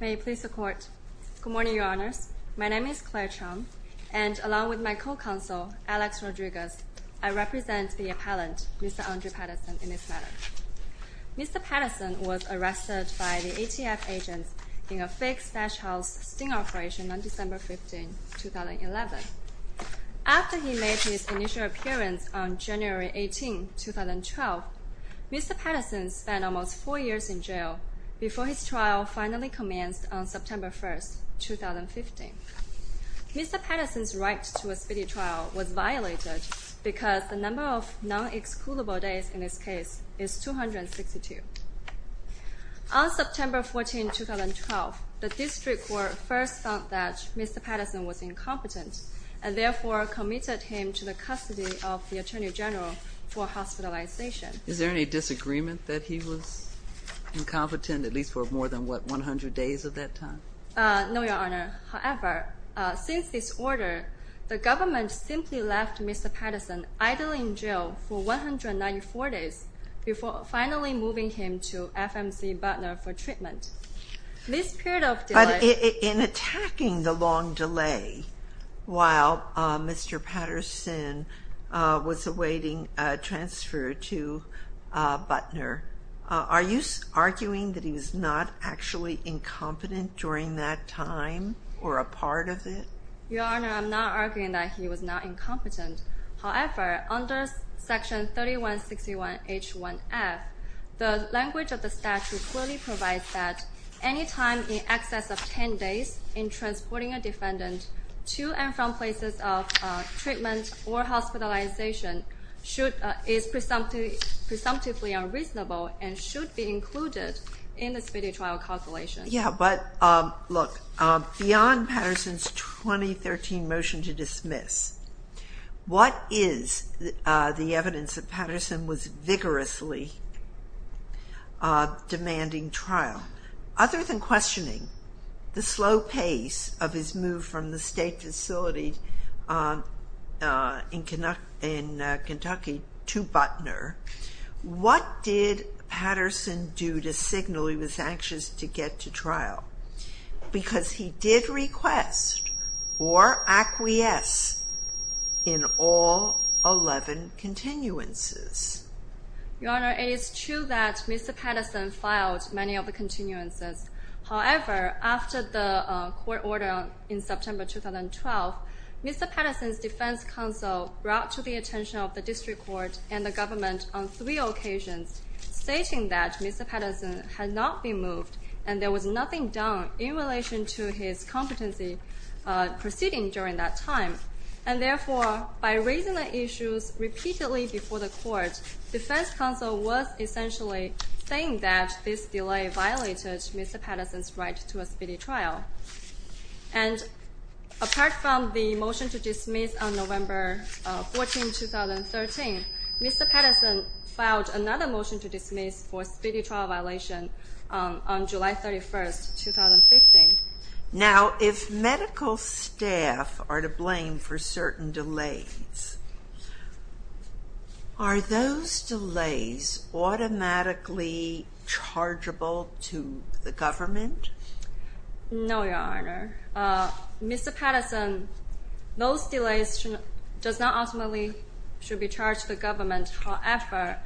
Good morning, your honors. My name is Claire Chung, and along with my co-counsel, Alex Rodriguez, I represent the appellant, Mr. Andre Patterson, in this matter. Mr. Patterson was arrested by the ATF agents in a fake stash house sting operation on December 15, 2011. After he made his initial appearance on January 18, 2012, Mr. Patterson spent almost four years in jail before his trial finally commenced on September 1, 2015. Mr. Patterson's right to a speedy trial was violated because the number of non-excludable days in his case is 262. On September 14, 2012, the District Court first found that Mr. Patterson was incompetent and therefore committed him to the custody of the Attorney General for hospitalization. Is there any disagreement that he was incompetent, at least for more than, what, 100 days at that time? No, your honor. However, since this order, the government simply left Mr. Patterson idly in jail for 194 days before finally moving him to FMC Butner for treatment. But in attacking the long delay while Mr. Patterson was awaiting transfer to Butner, are you arguing that he was not actually incompetent during that time or a part of it? Your honor, I'm not arguing that he was not incompetent. However, under section 3161H1F, the language of the statute clearly provides that any time in excess of 10 days in transporting a defendant to and from places of treatment or hospitalization is presumptively unreasonable and should be included in the speedy trial calculation. Yeah, but look, beyond Patterson's 2013 motion to dismiss, what is the evidence that Patterson was vigorously demanding trial? Now, other than questioning the slow pace of his move from the state facility in Kentucky to Butner, what did Patterson do to signal he was anxious to get to trial? Because he did request or acquiesce in all 11 continuances. Your honor, it is true that Mr. Patterson filed many of the continuances. However, after the court order in September 2012, Mr. Patterson's defense counsel brought to the attention of the district court and the government on three occasions, stating that Mr. Patterson had not been moved and there was nothing done in relation to his competency proceeding during that time. And therefore, by raising the issues repeatedly before the court, defense counsel was essentially saying that this delay violated Mr. Patterson's right to a speedy trial. And apart from the motion to dismiss on November 14, 2013, Mr. Patterson filed another motion to dismiss for a speedy trial violation on July 31, 2015. Now, if medical staff are to blame for certain delays, are those delays automatically chargeable to the government? No, your honor. Mr. Patterson, those delays does not ultimately should be charged to the government. However,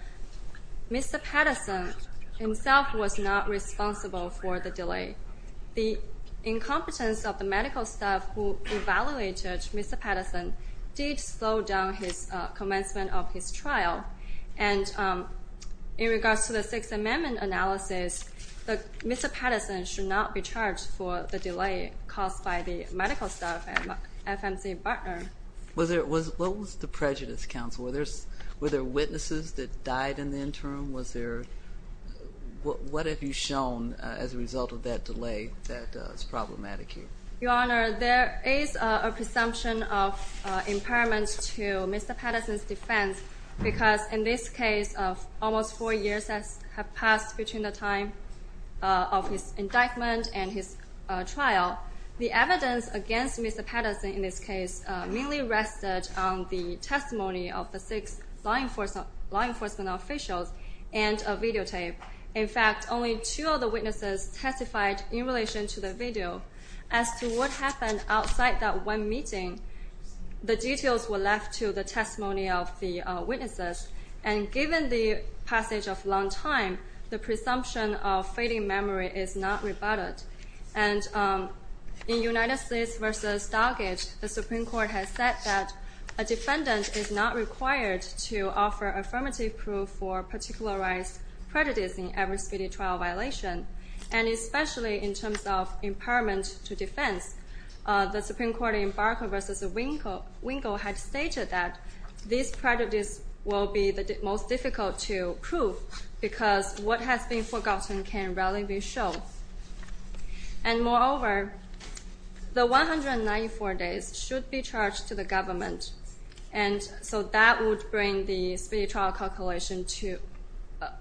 Mr. Patterson himself was not responsible for the delay. The incompetence of the medical staff who evaluated Mr. Patterson did slow down his commencement of his trial. And in regards to the Sixth Amendment analysis, Mr. Patterson should not be charged for the delay caused by the medical staff at FMC Bartner. What was the prejudice, counsel? Were there witnesses that died in the interim? What have you shown as a result of that delay that is problematic here? Your honor, there is a presumption of impairment to Mr. Patterson's defense because in this case of almost four years that have passed between the time of his indictment and his trial, the evidence against Mr. Patterson in this case mainly rested on the testimony of the six law enforcement officials and a videotape. In fact, only two of the witnesses testified in relation to the video. As to what happened outside that one meeting, the details were left to the testimony of the witnesses. And given the passage of a long time, the presumption of fading memory is not rebutted. And in United States v. Doggett, the Supreme Court has said that a defendant is not required to offer affirmative proof for particularized prejudice in every speedy trial violation. And especially in terms of impairment to defense, the Supreme Court in Barker v. Winkle had stated that this prejudice will be the most difficult to prove because what has been forgotten can rarely be shown. And moreover, the 194 days should be charged to the government. And so that would bring the speedy trial calculation to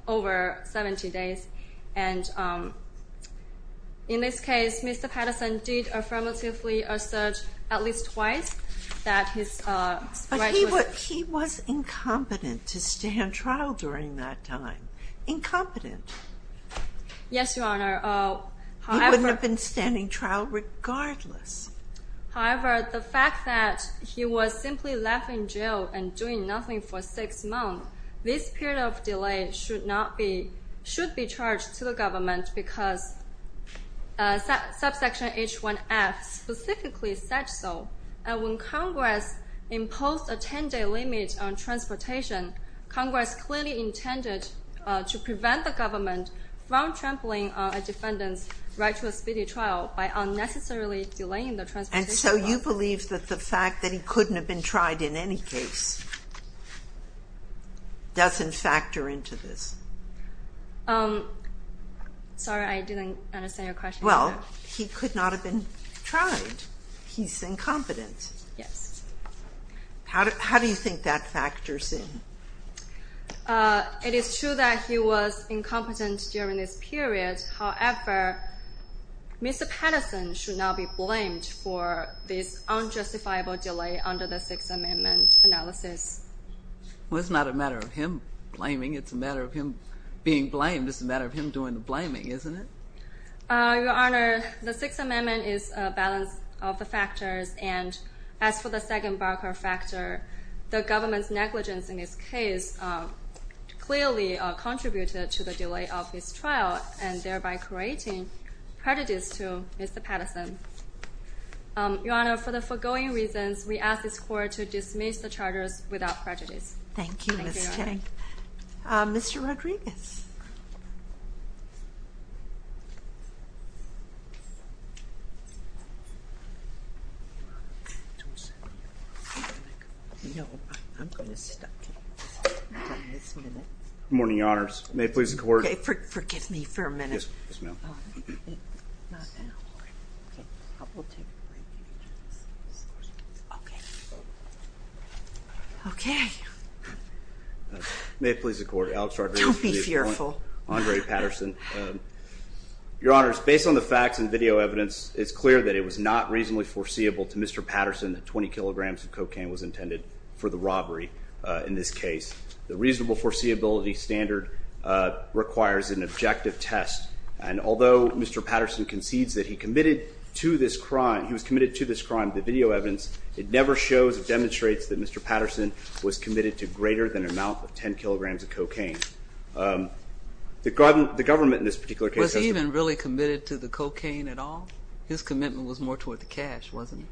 over 70 days. And in this case, Mr. Patterson did affirmatively assert at least twice that his right was... But he was incompetent to stand trial during that time. Incompetent. Yes, Your Honor. However... He wouldn't have been standing trial regardless. However, the fact that he was simply left in jail and doing nothing for six months, this period of delay should be charged to the government because subsection H1F specifically said so. And when Congress imposed a 10-day limit on transportation, Congress clearly intended to prevent the government from trampling a defendant's right to a speedy trial by unnecessarily delaying the transportation... And so you believe that the fact that he couldn't have been tried in any case doesn't factor into this? Sorry, I didn't understand your question. Well, he could not have been tried. He's incompetent. Yes. How do you think that factors in? It is true that he was incompetent during this period. However, Mr. Patterson should not be blamed for this unjustifiable delay under the Sixth Amendment analysis. Well, it's not a matter of him blaming. It's a matter of him being blamed. It's a matter of him doing the blaming, isn't it? Your Honor, the Sixth Amendment is a balance of the factors, and as for the second Barker factor, the government's negligence in this case clearly contributed to the delay of his trial and thereby creating prejudice to Mr. Patterson. Your Honor, for the foregoing reasons, we ask this Court to dismiss the charges without prejudice. Thank you, Ms. Tang. Mr. Rodriguez. Good morning, Your Honors. May it please the Court... Okay, forgive me for a minute. Okay. May it please the Court, Alex Rodriguez... Don't be fearful. Andre Patterson. Your Honors, based on the facts and video evidence, it's clear that it was not reasonably foreseeable to Mr. Patterson that 20 kilograms of cocaine was intended for the robbery in this case. The reasonable foreseeability standard requires an objective test, and although Mr. Patterson concedes that he committed to this crime, he was committed to this crime, the video evidence, it never shows or demonstrates that Mr. Patterson was committed to greater than an amount of 10 kilograms of cocaine. The government in this particular case... Was he even really committed to the cocaine at all? His commitment was more toward the cash, wasn't it?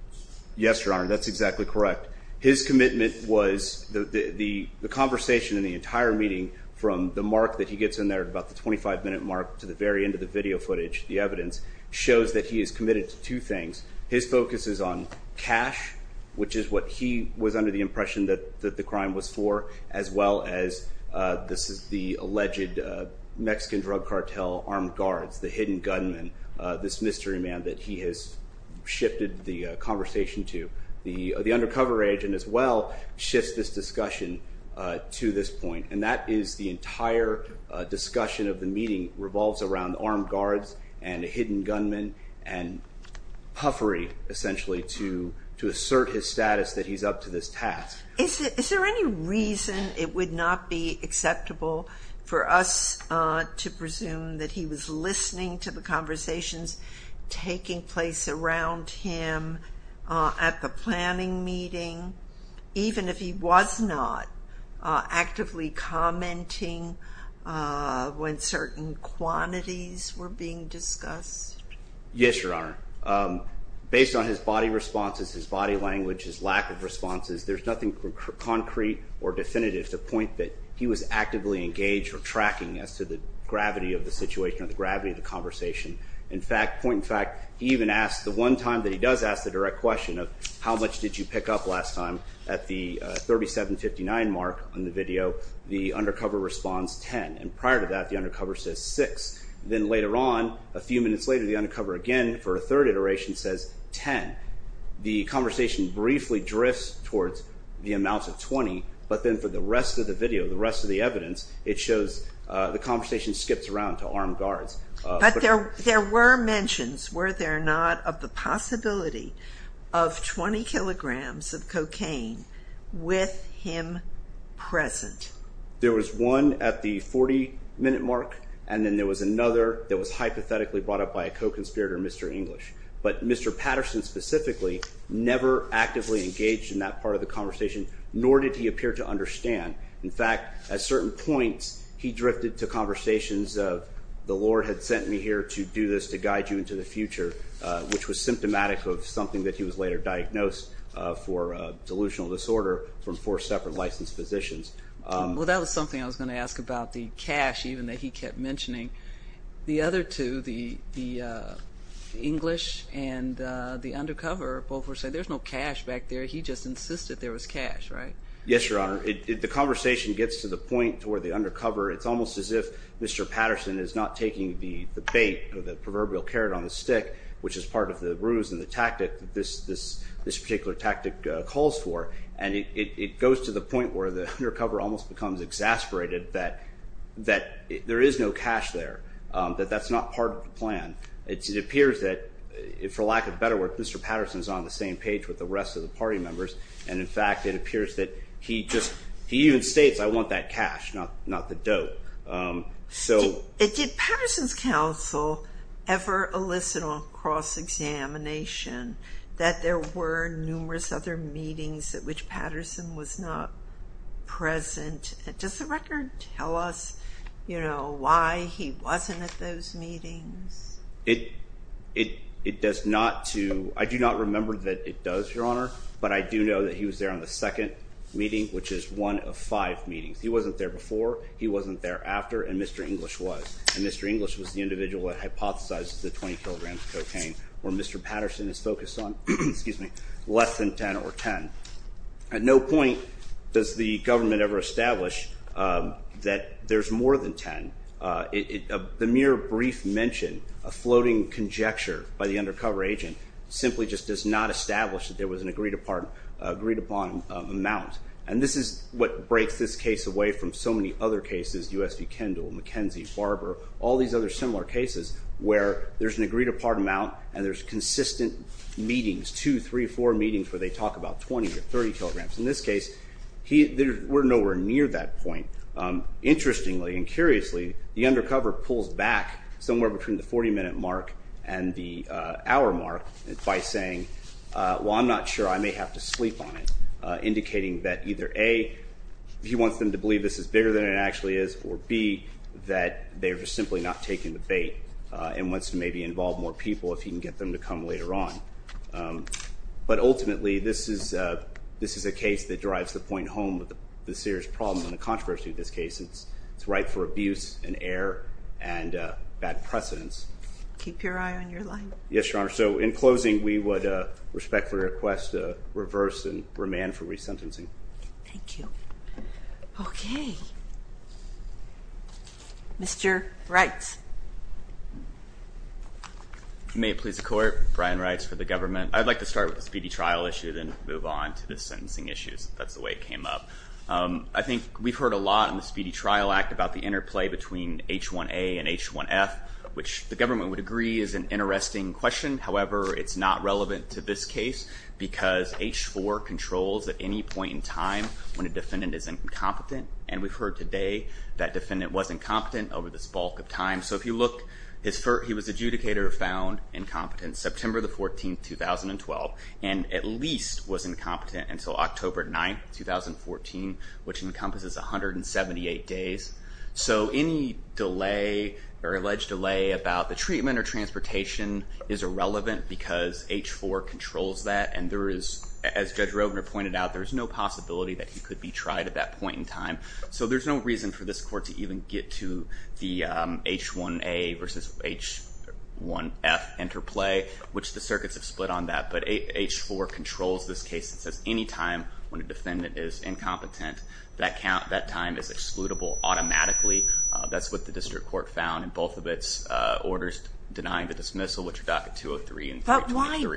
Yes, Your Honor, that's exactly correct. His commitment was the conversation in the entire meeting from the mark that he gets in there at about the 25-minute mark to the very end of the video footage, the evidence, shows that he is committed to two things. His focus is on cash, which is what he was under the impression that the crime was for, as well as this is the alleged Mexican drug cartel armed guards, the hidden gunmen, this mystery man that he has shifted the conversation to. The undercover agent as well shifts this discussion to this point, and that is the entire discussion of the meeting revolves around armed guards and hidden gunmen and puffery, essentially, to assert his status that he's up to this task. Is there any reason it would not be acceptable for us to presume that he was listening to the conversations taking place around him at the planning meeting, even if he was not actively commenting when certain quantities were being discussed? Yes, Your Honor. Based on his body responses, his body language, his lack of responses, there's nothing concrete or definitive to point that he was actively engaged or tracking as to the gravity of the situation or the gravity of the conversation. In fact, point in fact, the one time that he does ask the direct question of how much did you pick up last time at the $37.59 mark on the video, the undercover responds $10.00, and prior to that, the undercover says $6.00. Then later on, a few minutes later, the undercover again for a third iteration says $10.00. The conversation briefly drifts towards the amount of $20.00, but then for the rest of the video, the rest of the evidence, it shows the conversation skips around to armed guards. But there were mentions, were there not, of the possibility of 20 kilograms of cocaine with him present? There was one at the 40-minute mark, and then there was another that was hypothetically brought up by a co-conspirator, Mr. English. But Mr. Patterson specifically never actively engaged in that part of the conversation, nor did he appear to understand. In fact, at certain points, he drifted to conversations of the Lord had sent me here to do this to guide you into the future, which was symptomatic of something that he was later diagnosed for delusional disorder from four separate licensed physicians. Well, that was something I was going to ask about the cash even that he kept mentioning. The other two, the English and the undercover, both were saying there's no cash back there. He just insisted there was cash, right? Yes, Your Honor. The conversation gets to the point where the undercover, it's almost as if Mr. Patterson is not taking the bait or the proverbial carrot on the stick, which is part of the ruse and the tactic that this particular tactic calls for. And it goes to the point where the undercover almost becomes exasperated that there is no cash there, that that's not part of the plan. It appears that, for lack of better word, Mr. Patterson is on the same page with the rest of the party members. And in fact, it appears that he just, he even states, I want that cash, not the dope. Did Patterson's counsel ever elicit a cross-examination that there were numerous other meetings at which Patterson was not present? Does the record tell us, you know, why he wasn't at those meetings? It does not to, I do not remember that it does, Your Honor, but I do know that he was there on the second meeting, which is one of five meetings. He wasn't there before, he wasn't there after, and Mr. English was. And Mr. English was the individual that hypothesized the 20 kilograms of cocaine, where Mr. Patterson is focused on, excuse me, less than 10 or 10. At no point does the government ever establish that there's more than 10. The mere brief mention, a floating conjecture by the undercover agent, simply just does not establish that there was an agreed upon amount. And this is what breaks this case away from so many other cases, U.S. v. Kendall, McKenzie, Barber, all these other similar cases where there's an agreed upon amount and there's consistent meetings, two, three, four meetings where they talk about 20 or 30 kilograms. In this case, we're nowhere near that point. Interestingly and curiously, the undercover pulls back somewhere between the 40-minute mark and the hour mark by saying, well, I'm not sure, I may have to sleep on it, indicating that either A, he wants them to believe this is bigger than it actually is, or B, that they're just simply not taking the bait and wants to maybe involve more people if he can get them to come later on. But ultimately, this is a case that drives the point home with the serious problem and the controversy of this case. It's ripe for abuse and error and bad precedence. Keep your eye on your line. Yes, Your Honor. So in closing, we would respectfully request a reverse and remand for resentencing. Thank you. Okay. Mr. Reitz. May it please the Court, Brian Reitz for the government. I'd like to start with the speedy trial issue, then move on to the sentencing issues. That's the way it came up. I think we've heard a lot in the Speedy Trial Act about the interplay between H1A and H1F, which the government would agree is an interesting question. However, it's not relevant to this case because H4 controls at any point in time when a defendant is incompetent, and we've heard today that defendant was incompetent over this bulk of time. So if you look, he was adjudicated or found incompetent September 14, 2012, and at least was incompetent until October 9, 2014, which encompasses 178 days. So any delay or alleged delay about the treatment or transportation is irrelevant because H4 controls that, and there is, as Judge Rovner pointed out, there's no possibility that he could be tried at that point in time. So there's no reason for this Court to even get to the H1A versus H1F interplay, which the circuits have split on that. But H4 controls this case and says any time when a defendant is incompetent, that time is excludable automatically. That's what the district court found in both of its orders denying the dismissal, which are docket 203 and 323.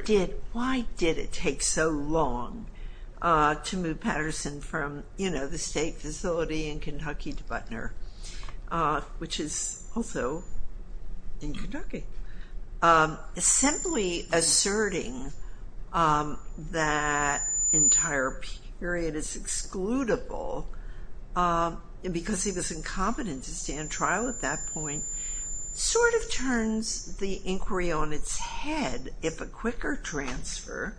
But why did it take so long to move Patterson from the state facility in Kentucky to Butner, which is also in Kentucky? Simply asserting that entire period is excludable because he was incompetent to stay in trial at that point sort of turns the inquiry on its head if a quicker transfer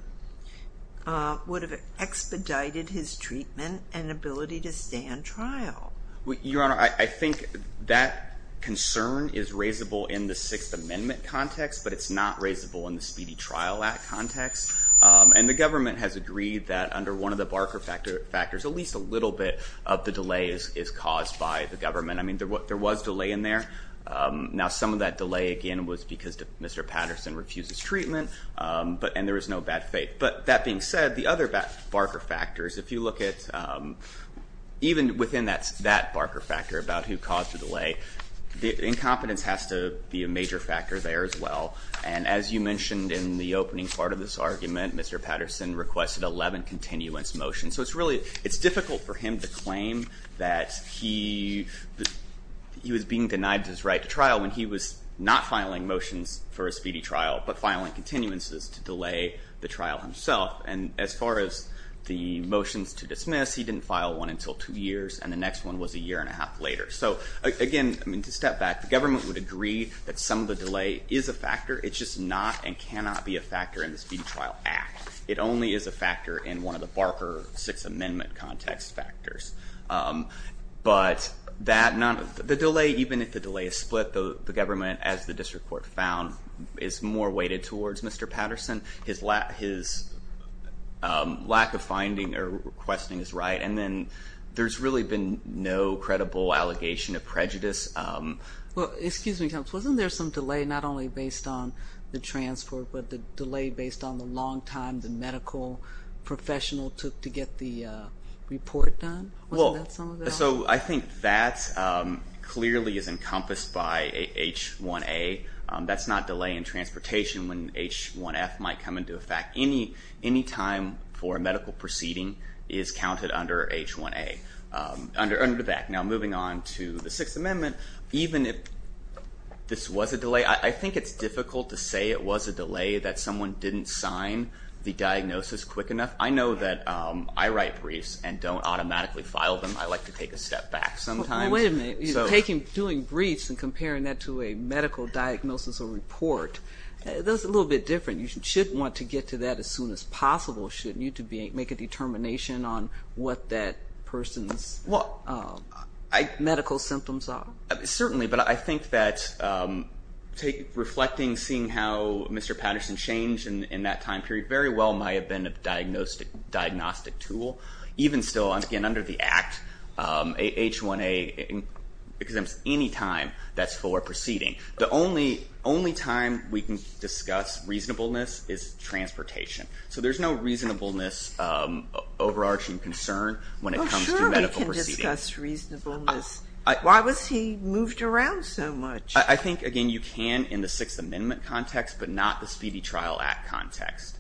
would have expedited his treatment and ability to stay in trial. Your Honor, I think that concern is raisable in the Sixth Amendment context, but it's not raisable in the Speedy Trial Act context. And the government has agreed that under one of the Barker factors, at least a little bit of the delay is caused by the government. I mean, there was delay in there. Now, some of that delay, again, was because Mr. Patterson refuses treatment, and there is no bad faith. But that being said, the other Barker factors, if you look at even within that Barker factor about who caused the delay, incompetence has to be a major factor there as well. And as you mentioned in the opening part of this argument, Mr. Patterson requested 11 continuance motions. So it's difficult for him to claim that he was being denied his right to trial when he was not filing motions for a speedy trial, but filing continuances to delay the trial himself. And as far as the motions to dismiss, he didn't file one until two years, and the next one was a year and a half later. So, again, I mean, to step back, the government would agree that some of the delay is a factor. It's just not and cannot be a factor in the Speedy Trial Act. It only is a factor in one of the Barker Sixth Amendment context factors. But the delay, even if the delay is split, the government, as the district court found, is more weighted towards Mr. Patterson. His lack of finding or requesting his right. And then there's really been no credible allegation of prejudice. Well, excuse me, Counsel, wasn't there some delay not only based on the transport, but the delay based on the long time the medical professional took to get the report done? Wasn't that some of that? Well, so I think that clearly is encompassed by H1A. That's not delay in transportation when H1F might come into effect. Any time for a medical proceeding is counted under H1A, under the back. Now, moving on to the Sixth Amendment, even if this was a delay, I think it's difficult to say it was a delay that someone didn't sign the diagnosis quick enough. I know that I write briefs and don't automatically file them. I like to take a step back sometimes. Well, wait a minute. Doing briefs and comparing that to a medical diagnosis or report, that's a little bit different. You should want to get to that as soon as possible, shouldn't you, to make a determination on what that person's medical symptoms are? Certainly, but I think that reflecting, seeing how Mr. Patterson changed in that time period, very well might have been a diagnostic tool. Even still, again, under the Act, H1A exempts any time that's for proceeding. The only time we can discuss reasonableness is transportation. So there's no reasonableness overarching concern when it comes to medical proceedings. Well, sure we can discuss reasonableness. Why was he moved around so much? I think, again, you can in the Sixth Amendment context, but not the Speedy Trial Act context.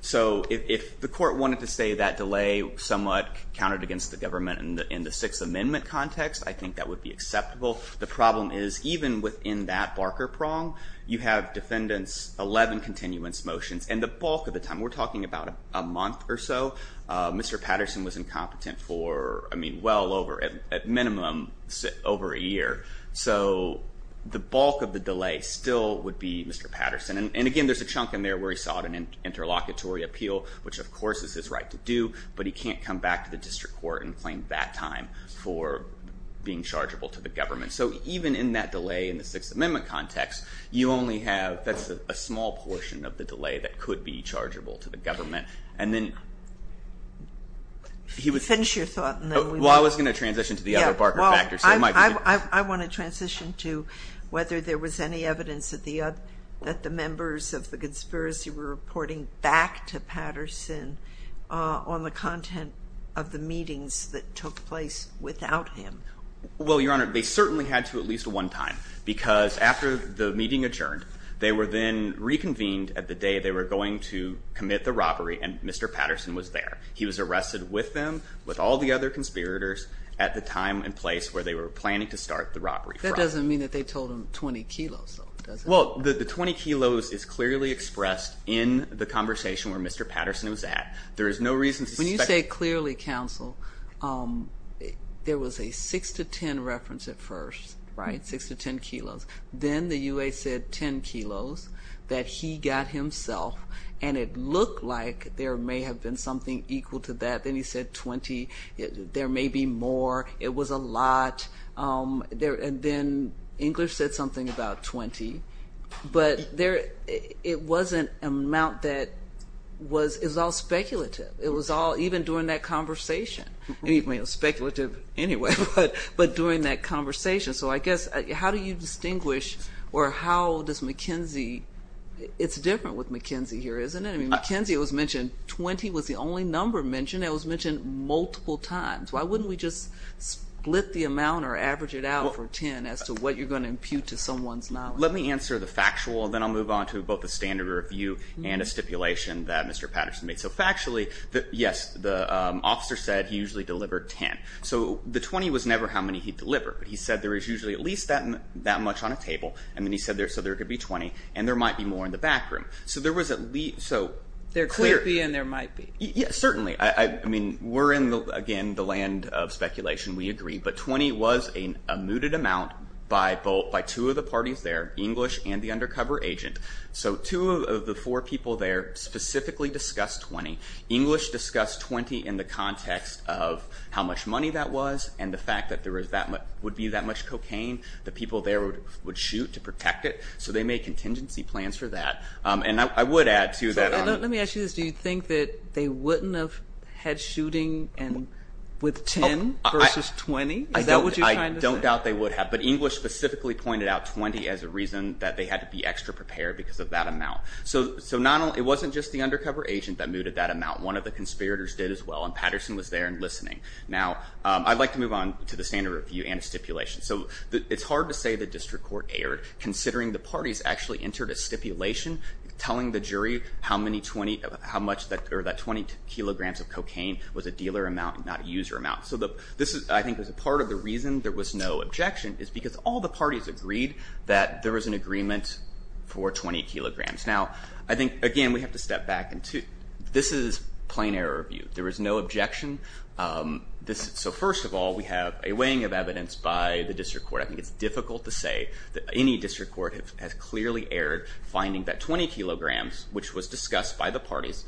So if the court wanted to say that delay somewhat counted against the government in the Sixth Amendment context, I think that would be acceptable. The problem is even within that barker prong, you have defendants' 11 continuance motions. And the bulk of the time, we're talking about a month or so, Mr. Patterson was incompetent for, I mean, well over, at minimum, over a year. So the bulk of the delay still would be Mr. Patterson. And, again, there's a chunk in there where he sought an interlocutory appeal, which of course is his right to do, but he can't come back to the district court and claim that time for being chargeable to the government. So even in that delay in the Sixth Amendment context, you only have, that's a small portion of the delay that could be chargeable to the government. And then he would- Finish your thought and then we move on. Well, I was going to transition to the other barker factors. Yeah, well, I want to transition to whether there was any evidence that the members of the conspiracy were reporting back to Patterson on the content of the meetings that took place without him. Well, Your Honor, they certainly had to at least one time, because after the meeting adjourned, they were then reconvened at the day they were going to commit the robbery and Mr. Patterson was there. He was arrested with them, with all the other conspirators, at the time and place where they were planning to start the robbery from. That doesn't mean that they told him 20 kilos, though, does it? Well, the 20 kilos is clearly expressed in the conversation where Mr. Patterson was at. There is no reason to suspect- When you say clearly, counsel, there was a 6 to 10 reference at first, right, 6 to 10 kilos. Then the U.S. said 10 kilos that he got himself, and it looked like there may have been something equal to that. Then he said 20. There may be more. It was a lot. Then English said something about 20, but it was an amount that was all speculative. It was all even during that conversation. It was speculative anyway, but during that conversation. So I guess how do you distinguish or how does McKenzie- It's different with McKenzie here, isn't it? McKenzie, it was mentioned 20 was the only number mentioned. It was mentioned multiple times. Why wouldn't we just split the amount or average it out for 10 as to what you're going to impute to someone's knowledge? Let me answer the factual, then I'll move on to both the standard review and a stipulation that Mr. Patterson made. So factually, yes, the officer said he usually delivered 10. So the 20 was never how many he delivered. He said there was usually at least that much on a table, and then he said there could be 20, and there might be more in the back room. So there was at least- There could be and there might be. Yes, certainly. I mean, we're in, again, the land of speculation. We agree. But 20 was a mooted amount by two of the parties there, English and the undercover agent. So two of the four people there specifically discussed 20. English discussed 20 in the context of how much money that was and the fact that there would be that much cocaine. The people there would shoot to protect it, so they made contingency plans for that. And I would add to that- Let me ask you this. Do you think that they wouldn't have had shooting with 10 versus 20? Is that what you're trying to say? I don't doubt they would have, but English specifically pointed out 20 as a reason that they had to be extra prepared because of that amount. So it wasn't just the undercover agent that mooted that amount. One of the conspirators did as well, and Patterson was there and listening. Now, I'd like to move on to the standard review and stipulation. So it's hard to say the district court erred, considering the parties actually entered a stipulation telling the jury how many 20- or that 20 kilograms of cocaine was a dealer amount and not a user amount. So this, I think, was a part of the reason there was no objection is because all the parties agreed that there was an agreement for 20 kilograms. Now, I think, again, we have to step back. This is plain error review. There was no objection. So first of all, we have a weighing of evidence by the district court. I think it's difficult to say that any district court has clearly erred finding that 20 kilograms, which was discussed by the parties,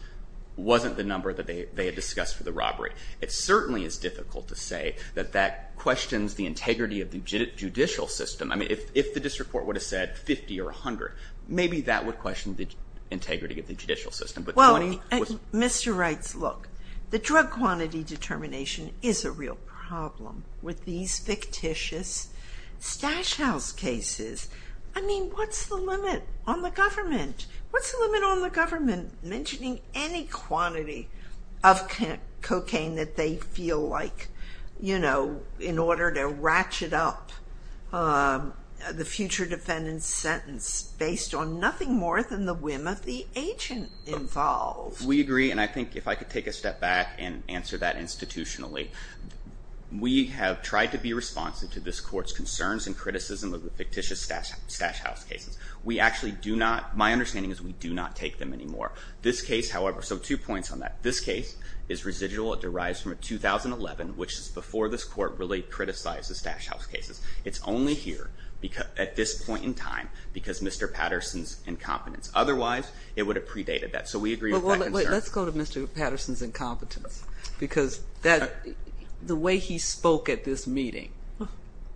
wasn't the number that they had discussed for the robbery. It certainly is difficult to say that that questions the integrity of the judicial system. I mean, if the district court would have said 50 or 100, maybe that would question the integrity of the judicial system. But 20 was- Well, Mr. Reitz, look, the drug quantity determination is a real problem with these fictitious stash house cases. I mean, what's the limit on the government? mentioning any quantity of cocaine that they feel like, you know, in order to ratchet up the future defendant's sentence based on nothing more than the whim of the agent involved. We agree, and I think if I could take a step back and answer that institutionally, we have tried to be responsive to this court's concerns and criticism of the fictitious stash house cases. We actually do not, my understanding is we do not take them anymore. This case, however, so two points on that. This case is residual. It derives from a 2011, which is before this court really criticized the stash house cases. It's only here at this point in time because Mr. Patterson's incompetence. Otherwise, it would have predated that. So we agree with that concern. Let's go to Mr. Patterson's incompetence because the way he spoke at this meeting,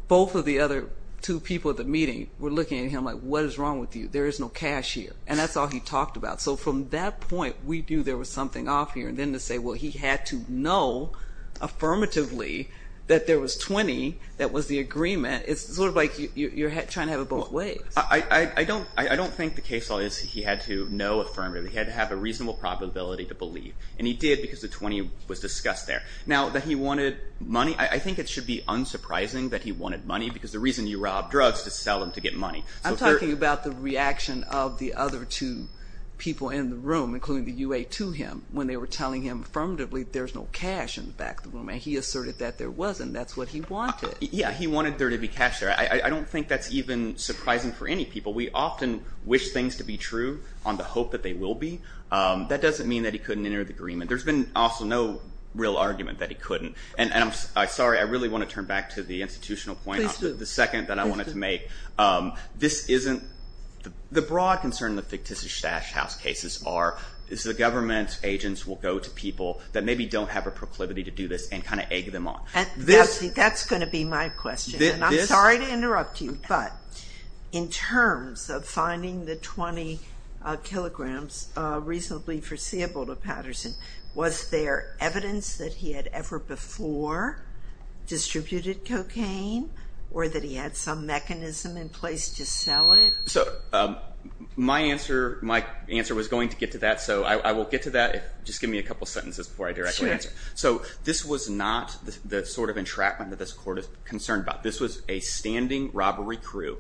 both of the other two people at the meeting were looking at him like, what is wrong with you? There is no cash here, and that's all he talked about. So from that point, we knew there was something off here. And then to say, well, he had to know affirmatively that there was 20 that was the agreement, it's sort of like you're trying to have it both ways. I don't think the case law is he had to know affirmatively. He had to have a reasonable probability to believe, and he did because the 20 was discussed there. Now, that he wanted money, I think it should be unsurprising that he wanted money because the reason you rob drugs is to sell them to get money. I'm talking about the reaction of the other two people in the room, including the UA to him, when they were telling him affirmatively there's no cash in the back of the room, and he asserted that there wasn't. That's what he wanted. Yeah, he wanted there to be cash there. I don't think that's even surprising for any people. We often wish things to be true on the hope that they will be. That doesn't mean that he couldn't enter the agreement. There's been also no real argument that he couldn't. I'm sorry. I really want to turn back to the institutional point on the second that I wanted to make. The broad concern in the fictitious stash house cases is the government agents will go to people that maybe don't have a proclivity to do this and kind of egg them on. That's going to be my question, and I'm sorry to interrupt you, but in terms of finding the 20 kilograms reasonably foreseeable to Patterson, was there evidence that he had ever before distributed cocaine or that he had some mechanism in place to sell it? So my answer was going to get to that, so I will get to that. Just give me a couple sentences before I directly answer. So this was not the sort of entrapment that this court is concerned about. This was a standing robbery crew.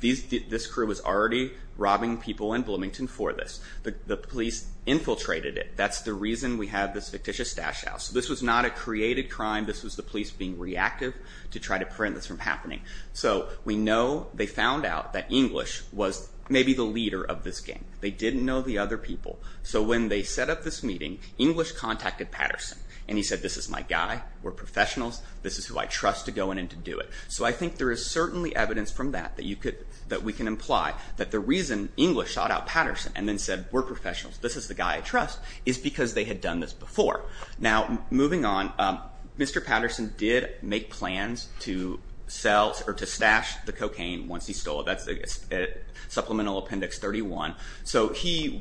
This crew was already robbing people in Bloomington for this. The police infiltrated it. That's the reason we have this fictitious stash house. This was not a created crime. This was the police being reactive to try to prevent this from happening. So we know they found out that English was maybe the leader of this gang. They didn't know the other people. So when they set up this meeting, English contacted Patterson, and he said, This is my guy. We're professionals. This is who I trust to go in and to do it. So I think there is certainly evidence from that that we can imply that the reason English sought out Patterson and then said, We're professionals. This is the guy I trust, is because they had done this before. Now, moving on, Mr. Patterson did make plans to sell or to stash the cocaine once he stole it. That's Supplemental Appendix 31. So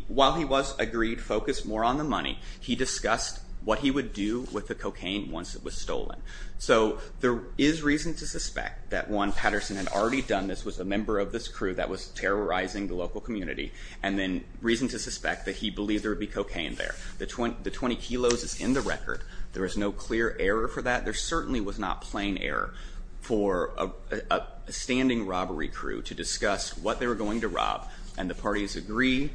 while he was agreed, focused more on the money, he discussed what he would do with the cocaine once it was stolen. So there is reason to suspect that, one, Patterson had already done this, was a member of this crew that was terrorizing the local community, and then reason to suspect that he believed there would be cocaine there. The 20 kilos is in the record. There is no clear error for that. There certainly was not plain error for a standing robbery crew to discuss what they were going to rob, and the parties agree.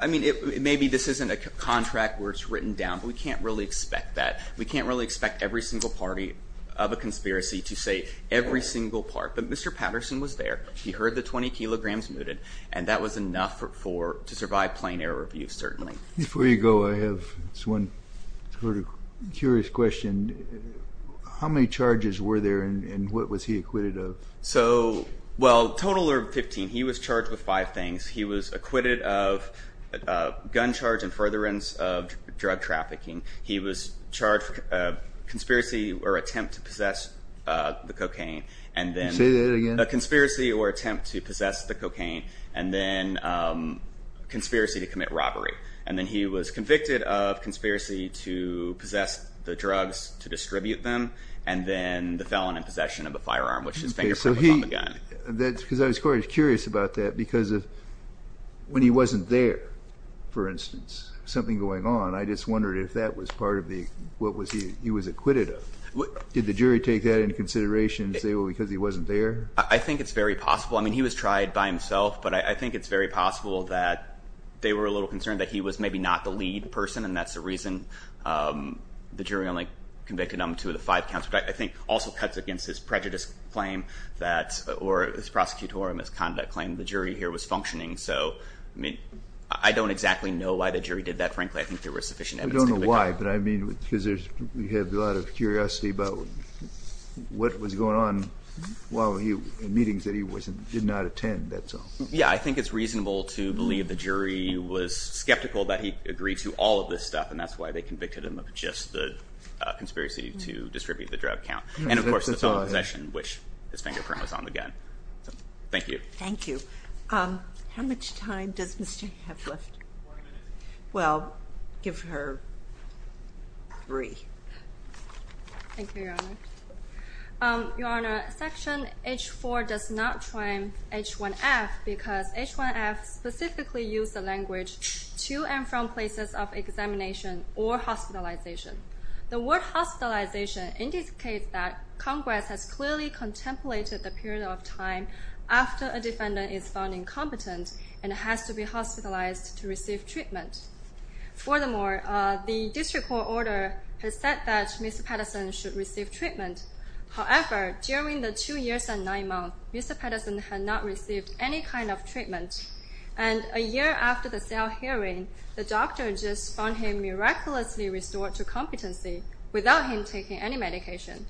I mean, maybe this isn't a contract where it's written down, but we can't really expect that. We can't really expect every single party of a conspiracy to say every single part. But Mr. Patterson was there. He heard the 20 kilograms mooted, and that was enough to survive plain error review, certainly. Before you go, I have this one sort of curious question. How many charges were there, and what was he acquitted of? Well, a total of 15. He was charged with five things. He was acquitted of gun charge and furtherance of drug trafficking. He was charged for conspiracy or attempt to possess the cocaine. Say that again. A conspiracy or attempt to possess the cocaine, and then conspiracy to commit robbery. And then he was convicted of conspiracy to possess the drugs to distribute them, and then the felon in possession of a firearm, which his fingerprint was on the gun. Because I was quite curious about that, because when he wasn't there, for instance, something going on, I just wondered if that was part of what he was acquitted of. Did the jury take that into consideration and say, well, because he wasn't there? I think it's very possible. I mean, he was tried by himself, but I think it's very possible that they were a little concerned that he was maybe not the lead person, and that's the reason the jury only convicted him to the five counts, which I think also cuts against his prejudice claim or his prosecutorial misconduct claim that the jury here was functioning. So, I mean, I don't exactly know why the jury did that. Frankly, I think there were sufficient evidence. I don't know why, but I mean, because we have a lot of curiosity about what was going on while he was in meetings that he did not attend, that's all. Yeah, I think it's reasonable to believe the jury was skeptical that he agreed to all of this stuff, and that's why they convicted him of just the conspiracy to distribute the drug count. And, of course, the felony possession, which his fingerprint was on the gun. Thank you. Thank you. How much time does Ms. Chang have left? Four minutes. Well, give her three. Thank you, Your Honor. Your Honor, Section H-4 does not claim H-1F because H-1F specifically used the language to and from places of examination or hospitalization. The word hospitalization indicates that Congress has clearly contemplated the period of time after a defendant is found incompetent and has to be hospitalized to receive treatment. Furthermore, the district court order has said that Mr. Patterson should receive treatment. However, during the two years and nine months, Mr. Patterson had not received any kind of treatment, and a year after the cell hearing, the doctor just found him miraculously restored to competency without him taking any medication.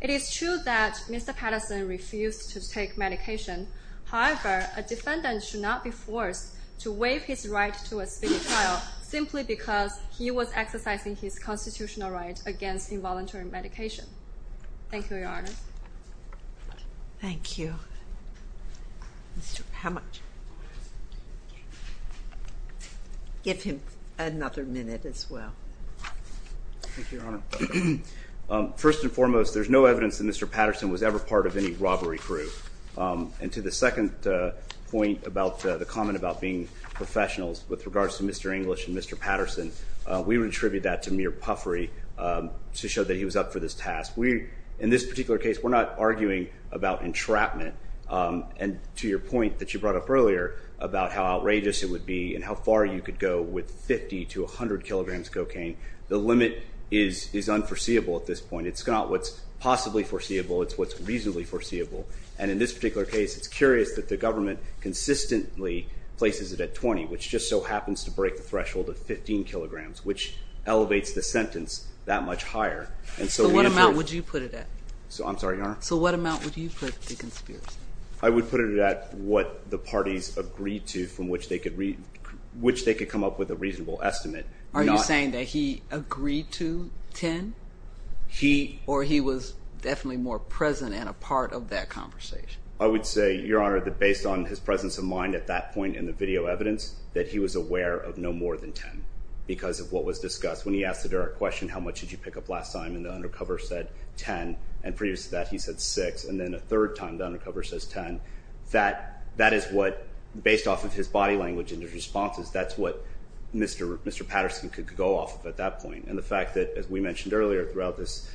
It is true that Mr. Patterson refused to take medication. However, a defendant should not be forced to waive his right to a speedy trial simply because he was exercising his constitutional right against involuntary medication. Thank you, Your Honor. Thank you. How much? Give him another minute as well. Thank you, Your Honor. First and foremost, there's no evidence that Mr. Patterson was ever part of any robbery crew. And to the second point about the comment about being professionals with regards to Mr. English and Mr. Patterson, we would attribute that to mere puffery to show that he was up for this task. In this particular case, we're not arguing about entrapment. And to your point that you brought up earlier about how outrageous it would be and how far you could go with 50 to 100 kilograms of cocaine, the limit is unforeseeable at this point. It's not what's possibly foreseeable. It's what's reasonably foreseeable. And in this particular case, it's curious that the government consistently places it at 20, which just so happens to break the threshold of 15 kilograms, which elevates the sentence that much higher. So what amount would you put it at? I'm sorry, Your Honor? So what amount would you put the conspiracy? I would put it at what the parties agreed to from which they could come up with a reasonable estimate. Are you saying that he agreed to 10 or he was definitely more present and a part of that conversation? I would say, Your Honor, that based on his presence of mind at that point in the video evidence, that he was aware of no more than 10 because of what was discussed. When he asked the direct question, how much did you pick up last time, and the undercover said 10, and previous to that he said 6, and then a third time the undercover says 10, that is what, based off of his body language and his responses, that's what Mr. Patterson could go off of at that point. And the fact that, as we mentioned earlier throughout this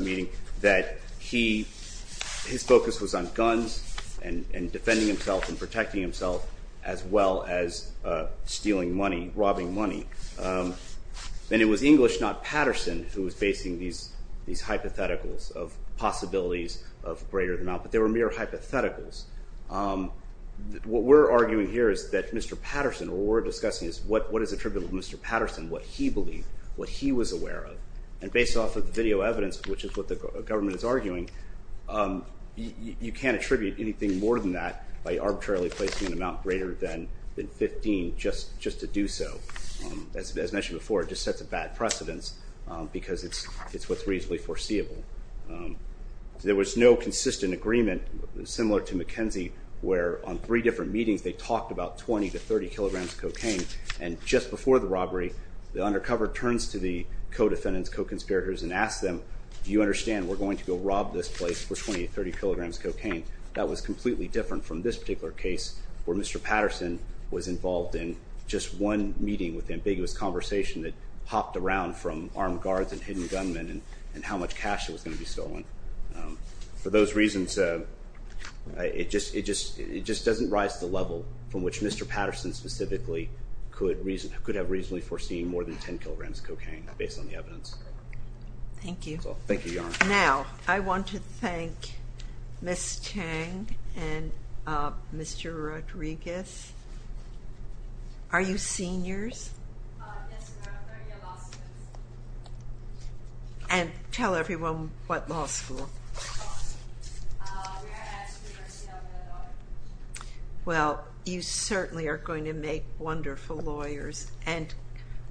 meeting, that his focus was on guns and defending himself and protecting himself as well as stealing money, robbing money. And it was English, not Patterson, who was basing these hypotheticals of possibilities of greater than amount, but they were mere hypotheticals. What we're arguing here is that Mr. Patterson or what we're discussing is what is attributable to Mr. Patterson, what he believed, what he was aware of. And based off of the video evidence, which is what the government is arguing, you can't attribute anything more than that by arbitrarily placing an amount greater than 15 just to do so. As mentioned before, it just sets a bad precedence because it's what's reasonably foreseeable. There was no consistent agreement similar to McKenzie where, on three different meetings, they talked about 20 to 30 kilograms of cocaine. And just before the robbery, the undercover turns to the co-defendants, co-conspirators, and asks them, do you understand we're going to go rob this place for 20 to 30 kilograms of cocaine? That was completely different from this particular case where Mr. Patterson was involved in just one meeting with ambiguous conversation that hopped around from armed guards and hidden gunmen and how much cash was going to be stolen. For those reasons, it just doesn't rise to the level from which Mr. Patterson specifically could have reasonably foreseen more than 10 kilograms of cocaine based on the evidence. Thank you. Thank you, Your Honor. Now, I want to thank Ms. Chang and Mr. Rodriguez. Are you seniors? Yes, we are. We're law students. And tell everyone what law school. Well, you certainly are going to make wonderful lawyers. And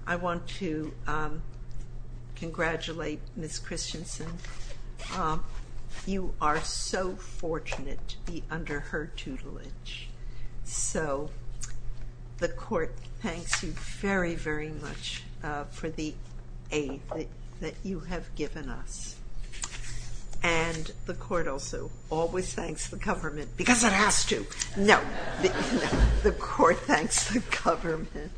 I want to congratulate Ms. Christensen. You are so fortunate to be under her tutelage. So the Court thanks you very, very much for the aid that you have given us. And the Court also always thanks the government because it has to. No, the Court thanks the government.